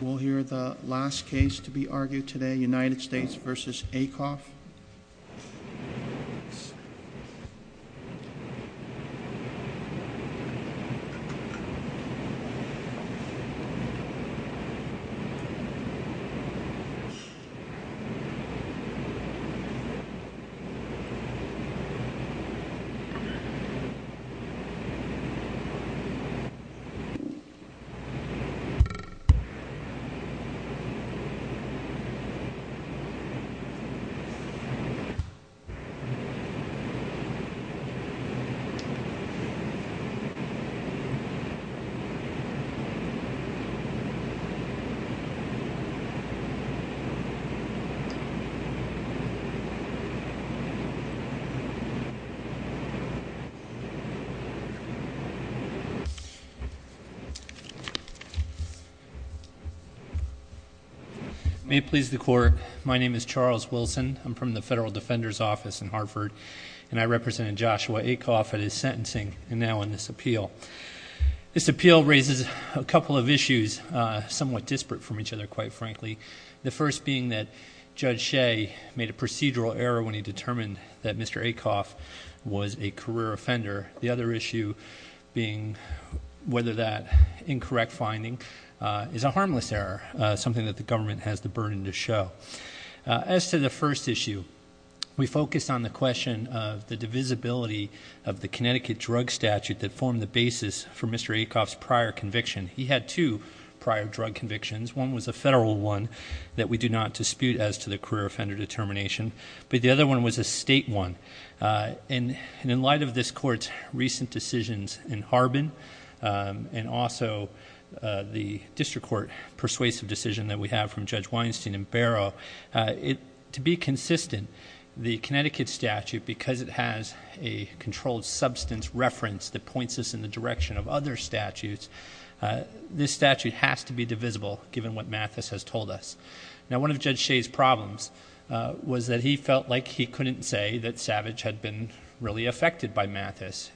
We'll hear the last case to be argued today, United States v. Acoff. We'll hear the last case to be argued today, United States v. Ac. May it please the Court, my name is Charles Wilson. I'm from the Federal Defender's Office in Hartford, and I represented Joshua Acoff at his sentencing and now in this appeal. This appeal raises a couple of issues, somewhat disparate from each other, quite frankly. The first being that Judge Shea made a procedural error when he determined that Mr. Acoff was a career offender. The other issue being whether that incorrect finding is a harmless error, something that the government has the burden to show. As to the first issue, we focused on the question of the divisibility of the Connecticut drug statute that formed the basis for Mr. Acoff's prior conviction. He had two prior drug convictions. One was a federal one that we do not dispute as to the career offender determination, but the other one was a state one. And in light of this court's recent decisions in Harbin, and also the district court persuasive decision that we have from Judge Weinstein and Barrow. To be consistent, the Connecticut statute, because it has a controlled substance reference that points us in the direction of other statutes, this statute has to be divisible given what Mathis has told us. Now one of Judge Shea's problems was that he felt like he couldn't say that Savage had been really affected by Mathis.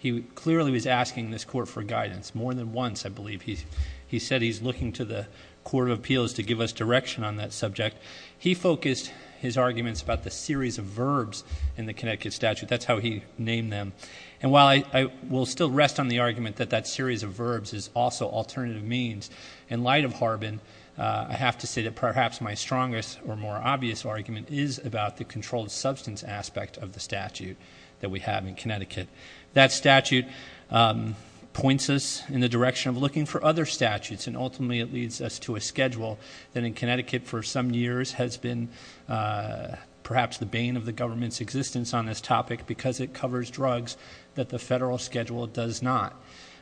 He clearly was asking this court for guidance. More than once, I believe, he said he's looking to the Court of Appeals to give us direction on that subject. He focused his arguments about the series of verbs in the Connecticut statute. That's how he named them. And while I will still rest on the argument that that series of verbs is also alternative means, in light of Harbin, I have to say that perhaps my strongest or more obvious argument is about the controlled substance aspect of the statute that we have in Connecticut. That statute points us in the direction of looking for other statutes and ultimately it leads us to a schedule that in Connecticut for some years has been perhaps the bane of the government's existence on this topic because it covers drugs that the federal schedule does not.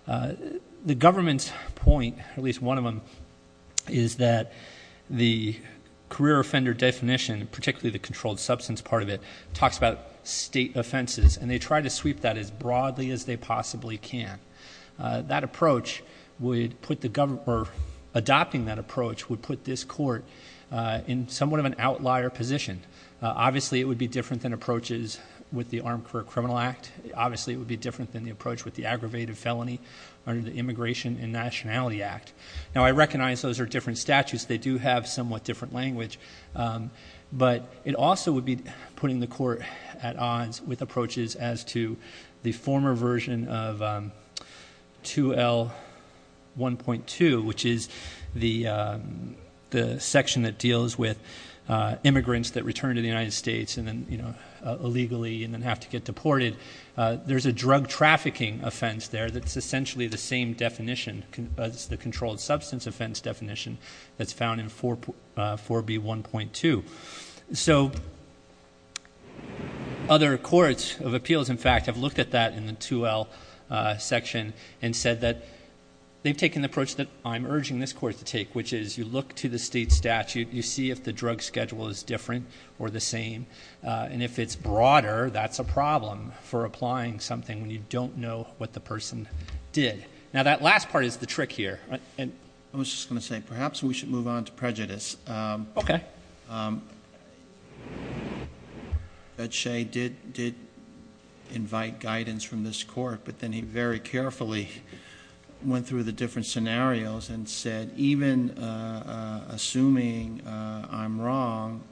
The government's point, at least one of them, is that the career offender definition, particularly the controlled substance part of it, talks about state offenses and they try to sweep that as broadly as they possibly can. That approach would put the government, or adopting that approach, would put this court in somewhat of an outlier position. Obviously, it would be different than approaches with the Armed Career Criminal Act. Obviously, it would be different than the approach with the Aggravated Felony under the Immigration and Nationality Act. Now, I recognize those are different statutes. They do have somewhat different language, but it also would be putting the court at odds with approaches as to the former version of 2L1.2, which is the section that deals with immigrants that return to the United States and then illegally and then have to get deported. There's a drug trafficking offense there that's essentially the same definition as the controlled substance offense definition that's found in 4B1.2. So, other courts of appeals, in fact, have looked at that in the 2L section and said that they've taken the approach that I'm urging this court to take, which is you look to the state statute, you see if the drug schedule is different or the same. And if it's broader, that's a problem for applying something when you don't know what the person did. Now, that last part is the trick here. And- I was just going to say, perhaps we should move on to prejudice. Okay. That Shay did invite guidance from this court, but then he very carefully went through the different scenarios and said, even assuming I'm wrong,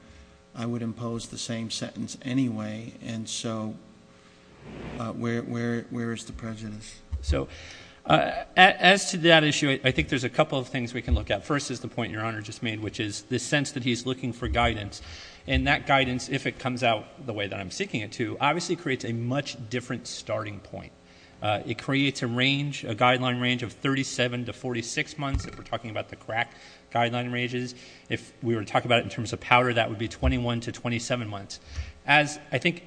I would impose the same sentence anyway. And so, where is the prejudice? So, as to that issue, I think there's a couple of things we can look at. First is the point your honor just made, which is the sense that he's looking for guidance. And that guidance, if it comes out the way that I'm seeking it to, obviously creates a much different starting point. It creates a range, a guideline range of 37 to 46 months, if we're talking about the crack guideline ranges. If we were to talk about it in terms of powder, that would be 21 to 27 months. As, I think,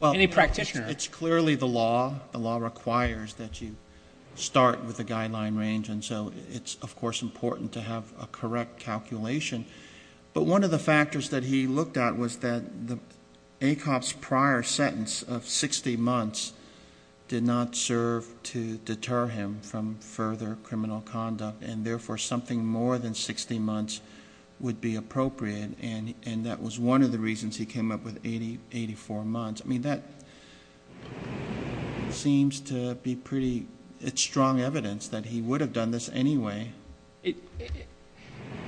any practitioner- It's clearly the law, the law requires that you start with a guideline range. And so, it's of course important to have a correct calculation. But one of the factors that he looked at was that the ACOP's prior sentence of 60 months did not serve to deter him from further criminal conduct. And therefore, something more than 60 months would be appropriate. And that was one of the reasons he came up with 84 months. I mean, that seems to be pretty, it's strong evidence that he would have done this anyway.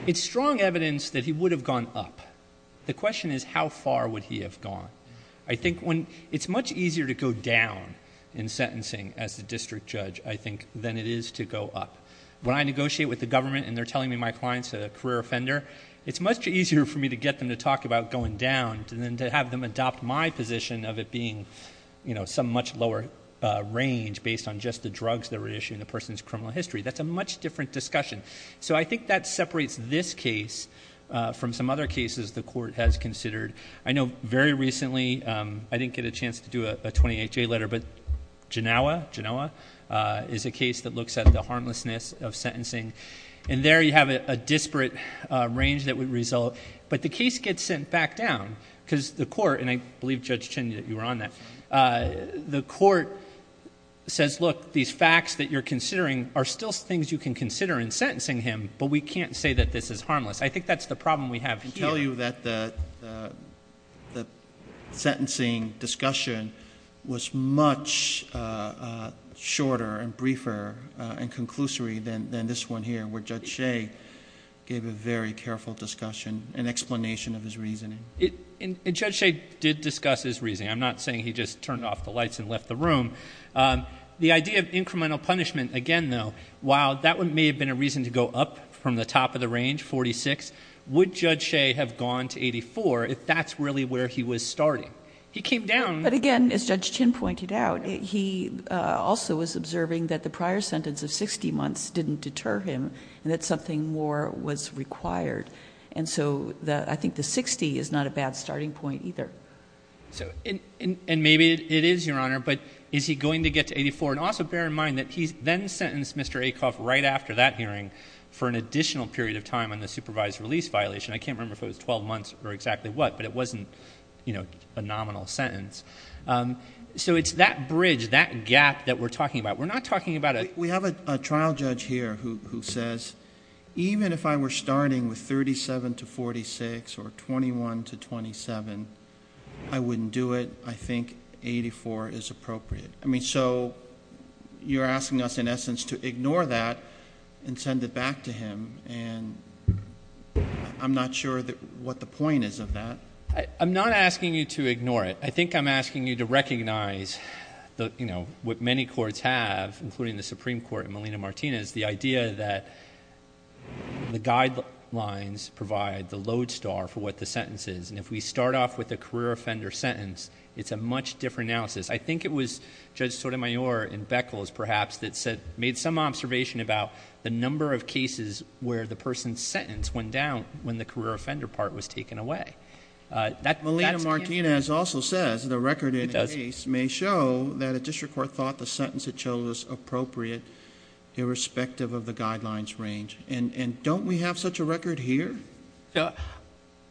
It's strong evidence that he would have gone up. The question is, how far would he have gone? I think when, it's much easier to go down in sentencing as a district judge, I think, than it is to go up. When I negotiate with the government and they're telling me my client's a career offender, it's much easier for me to get them to talk about going down than to have them adopt my position of it being some much lower range based on just the drugs they were issuing the person's criminal history. That's a much different discussion. So I think that separates this case from some other cases the court has considered. I know very recently, I didn't get a chance to do a 28-J letter, but Genoa is a case that looks at the harmlessness of sentencing. And there you have a disparate range that would result. But the case gets sent back down, because the court, and I believe Judge Chin, you were on that. The court says, look, these facts that you're considering are still things you can consider in sentencing him, but we can't say that this is harmless. I think that's the problem we have here. I argue that the sentencing discussion was much shorter and briefer and conclusory than this one here, where Judge Shea gave a very careful discussion and explanation of his reasoning. And Judge Shea did discuss his reasoning. I'm not saying he just turned off the lights and left the room. The idea of incremental punishment, again though, while that may have been a reason to go up from the top of the range, 46. Would Judge Shea have gone to 84 if that's really where he was starting? He came down- But again, as Judge Chin pointed out, he also was observing that the prior sentence of 60 months didn't deter him, and that something more was required. And so, I think the 60 is not a bad starting point either. And maybe it is, Your Honor, but is he going to get to 84? And also bear in mind that he's then sentenced Mr. Acoff right after that hearing for an additional period of time on the supervised release violation. I can't remember if it was 12 months or exactly what, but it wasn't a nominal sentence. So it's that bridge, that gap that we're talking about. We're not talking about a- We have a trial judge here who says, even if I were starting with 37 to 46, or 21 to 27, I wouldn't do it. I think 84 is appropriate. I mean, so you're asking us, in essence, to ignore that and send it back to him. And I'm not sure what the point is of that. I'm not asking you to ignore it. I think I'm asking you to recognize what many courts have, including the Supreme Court and Melina Martinez, the idea that the guidelines provide the load star for what the sentence is. And if we start off with a career offender sentence, it's a much different analysis. I think it was Judge Sotomayor in Beckles, perhaps, that said, made some observation about the number of cases where the person's sentence went down when the career offender part was taken away. That's- Melina Martinez also says the record in the case may show that a district court thought the sentence it chose was appropriate, irrespective of the guidelines range. And don't we have such a record here?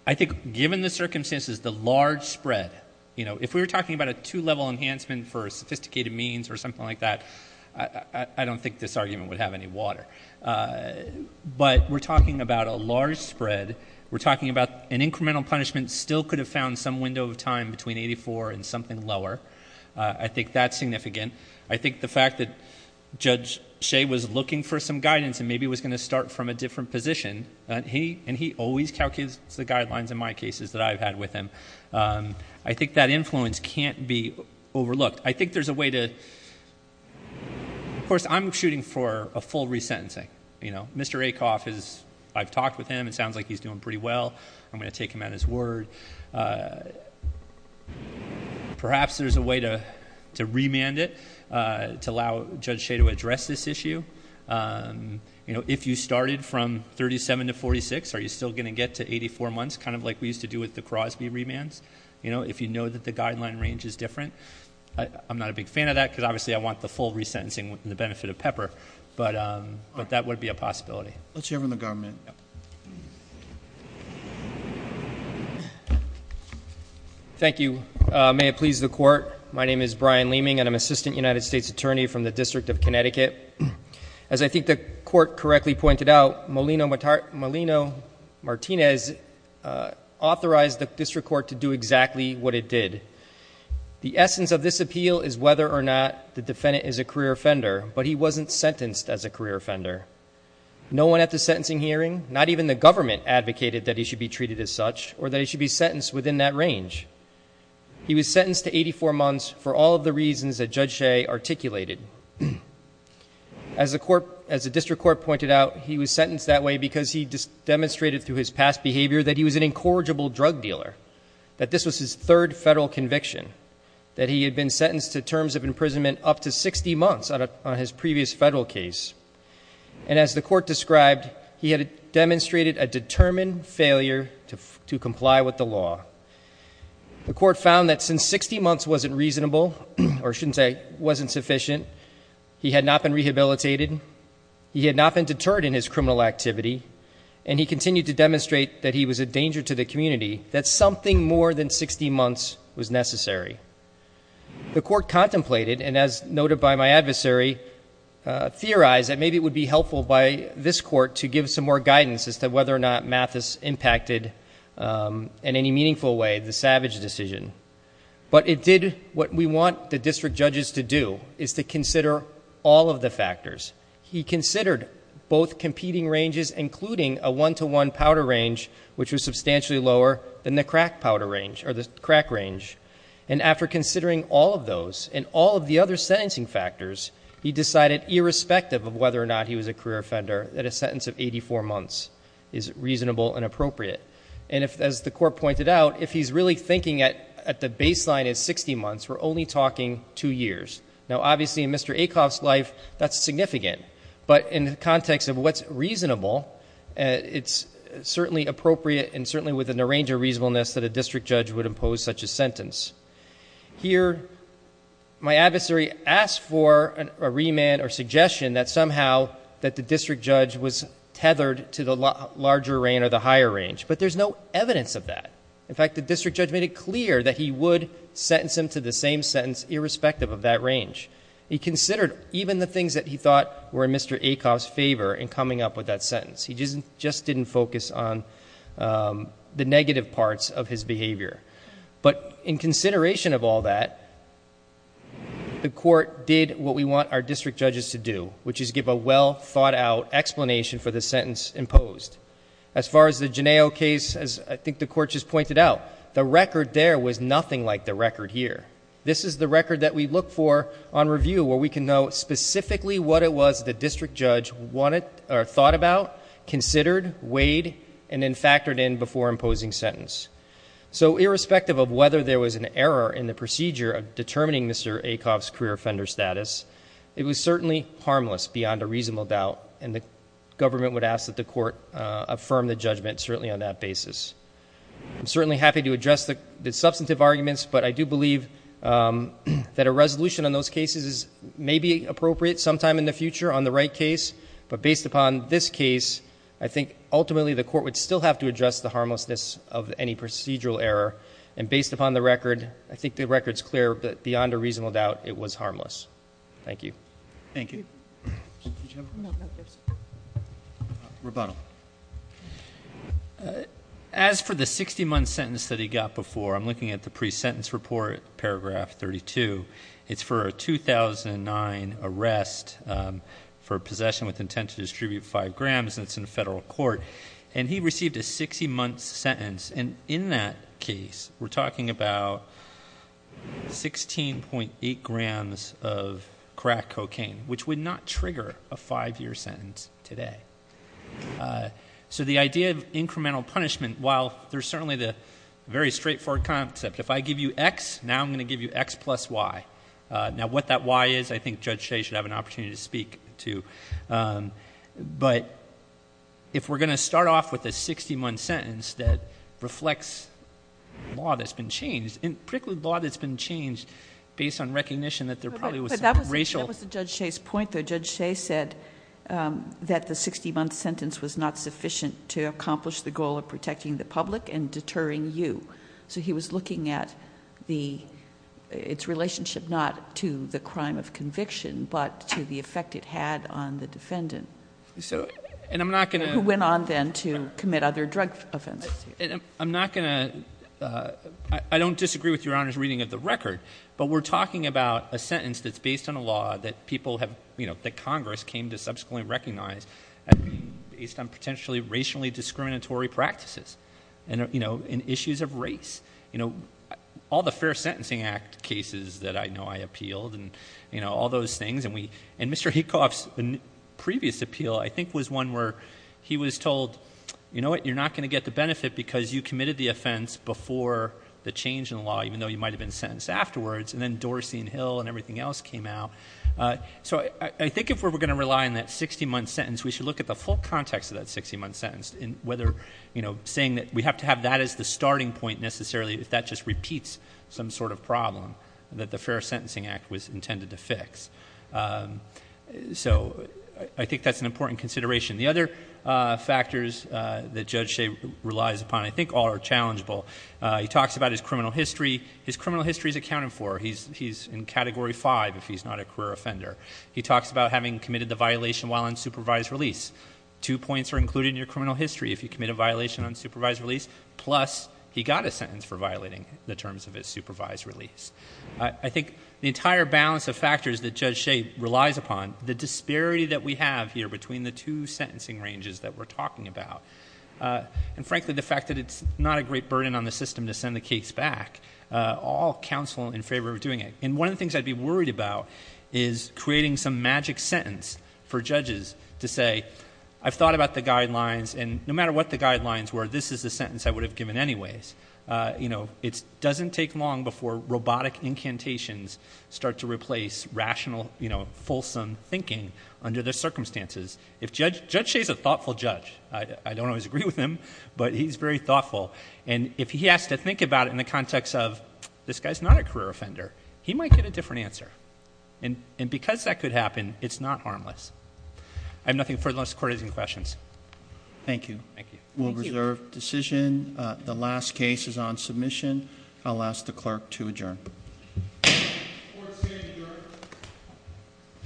I think, given the circumstances, the large spread. If we were talking about a two level enhancement for a sophisticated means or something like that, I don't think this argument would have any water. But we're talking about a large spread. We're talking about an incremental punishment still could have found some window of time between 84 and something lower. I think that's significant. I think the fact that Judge Shea was looking for some guidance and maybe was going to start from a different position. And he always calculates the guidelines in my cases that I've had with him. I think that influence can't be overlooked. I think there's a way to, of course, I'm shooting for a full resentencing. Mr. Acoff, I've talked with him, it sounds like he's doing pretty well. I'm going to take him at his word. Perhaps there's a way to remand it, to allow Judge Shea to address this issue. If you started from 37 to 46, are you still going to get to 84 months? Kind of like we used to do with the Crosby remands. If you know that the guideline range is different, I'm not a big fan of that because obviously I want the full resentencing with the benefit of Pepper. But that would be a possibility. Let's hear from the government. Thank you. May it please the court. My name is Brian Leeming and I'm Assistant United States Attorney from the District of Connecticut. As I think the court correctly pointed out, Molino-Martinez authorized the district court to do exactly what it did. The essence of this appeal is whether or not the defendant is a career offender, but he wasn't sentenced as a career offender. No one at the sentencing hearing, not even the government, advocated that he should be treated as such, or that he should be sentenced within that range. He was sentenced to 84 months for all of the reasons that Judge Shea articulated. As the district court pointed out, he was sentenced that way because he demonstrated through his past behavior that he was an incorrigible drug dealer. That this was his third federal conviction. That he had been sentenced to terms of imprisonment up to 60 months on his previous federal case. And as the court described, he had demonstrated a determined failure to comply with the law. The court found that since 60 months wasn't reasonable, or I shouldn't say, wasn't sufficient, he had not been rehabilitated. He had not been deterred in his criminal activity. And he continued to demonstrate that he was a danger to the community, that something more than 60 months was necessary. The court contemplated, and as noted by my adversary, theorized that maybe it would be helpful by this court to give some more guidance as to whether or not Mathis impacted in any meaningful way the Savage decision. But it did what we want the district judges to do, is to consider all of the factors. He considered both competing ranges, including a one to one powder range, which was substantially lower than the crack powder range, or the crack range. And after considering all of those, and all of the other sentencing factors, he decided, irrespective of whether or not he was a career offender, that a sentence of 84 months is reasonable and appropriate. And as the court pointed out, if he's really thinking at the baseline of 60 months, we're only talking two years. Now obviously, in Mr. Acoff's life, that's significant. But in the context of what's reasonable, it's certainly appropriate and certainly within the range of reasonableness that a district judge would impose such a sentence. Here, my adversary asked for a remand or suggestion that somehow that the district judge was tethered to the larger range or the higher range. But there's no evidence of that. In fact, the district judge made it clear that he would sentence him to the same sentence, irrespective of that range. He considered even the things that he thought were in Mr. Acoff's favor in coming up with that sentence. He just didn't focus on the negative parts of his behavior. But in consideration of all that, the court did what we want our district judges to do, which is give a well thought out explanation for the sentence imposed. As far as the Genao case, as I think the court just pointed out, the record there was nothing like the record here. This is the record that we look for on review, where we can know specifically what it was the district judge thought about, considered, weighed, and then factored in before imposing sentence. So irrespective of whether there was an error in the procedure of determining Mr. Acoff's career offender status, it was certainly harmless beyond a reasonable doubt, and the government would ask that the court affirm the judgment, certainly on that basis. I'm certainly happy to address the substantive arguments, but I do believe that a resolution on those cases is maybe appropriate sometime in the future on the right case, but based upon this case, I think ultimately the court would still have to address the harmlessness of any procedural error. And based upon the record, I think the record's clear, but beyond a reasonable doubt, it was harmless. Thank you. Thank you. Rebuttal. As for the 60 month sentence that he got before, I'm looking at the pre-sentence report, paragraph 32. It's for a 2009 arrest for possession with intent to distribute five grams. And it's in federal court. And he received a 60 month sentence, and in that case, we're talking about 16.8 grams of crack cocaine, which would not trigger a five year sentence today. So the idea of incremental punishment, while there's certainly the very straightforward concept. If I give you x, now I'm going to give you x plus y. Now what that y is, I think Judge Shea should have an opportunity to speak to. But if we're going to start off with a 60 month sentence that reflects law that's been changed, and particularly law that's been changed based on recognition that there probably was some racial- That was Judge Shea's point, though. Judge Shea said that the 60 month sentence was not sufficient to accomplish the goal of protecting the public and deterring you. So he was looking at its relationship not to the crime of conviction, but to the effect it had on the defendant. So, and I'm not going to- Who went on then to commit other drug offenses. I'm not going to, I don't disagree with your Honor's reading of the record. But we're talking about a sentence that's based on a law that people have, that Congress came to subsequently recognize. And based on potentially racially discriminatory practices. And in issues of race, all the Fair Sentencing Act cases that I know I appealed, and all those things, and Mr. Hecoff's previous appeal, I think, was one where he was told, you know what, you're not going to get the benefit because you committed the offense before the change in the law, even though you might have been sentenced afterwards. And then Dorsey and Hill and everything else came out. So I think if we're going to rely on that 60 month sentence, we should look at the full context of that 60 month sentence. And whether, saying that we have to have that as the starting point necessarily if that just repeats some sort of problem. That the Fair Sentencing Act was intended to fix. So, I think that's an important consideration. The other factors that Judge Shea relies upon, I think, are all challengeable. He talks about his criminal history. His criminal history is accounted for. He's in category five if he's not a career offender. He talks about having committed the violation while on supervised release. Two points are included in your criminal history if you commit a violation on supervised release. Plus, he got a sentence for violating the terms of his supervised release. I think the entire balance of factors that Judge Shea relies upon, the disparity that we have here between the two sentencing ranges that we're talking about. And frankly, the fact that it's not a great burden on the system to send the case back, all counsel in favor of doing it. And one of the things I'd be worried about is creating some magic sentence for the case I would have given anyways, it doesn't take long before robotic incantations start to replace rational, fulsome thinking under the circumstances. If Judge Shea's a thoughtful judge, I don't always agree with him, but he's very thoughtful. And if he has to think about it in the context of, this guy's not a career offender, he might get a different answer. And because that could happen, it's not harmless. I have nothing further, unless the court has any questions. Thank you. Thank you. We'll reserve decision. The last case is on submission. I'll ask the clerk to adjourn.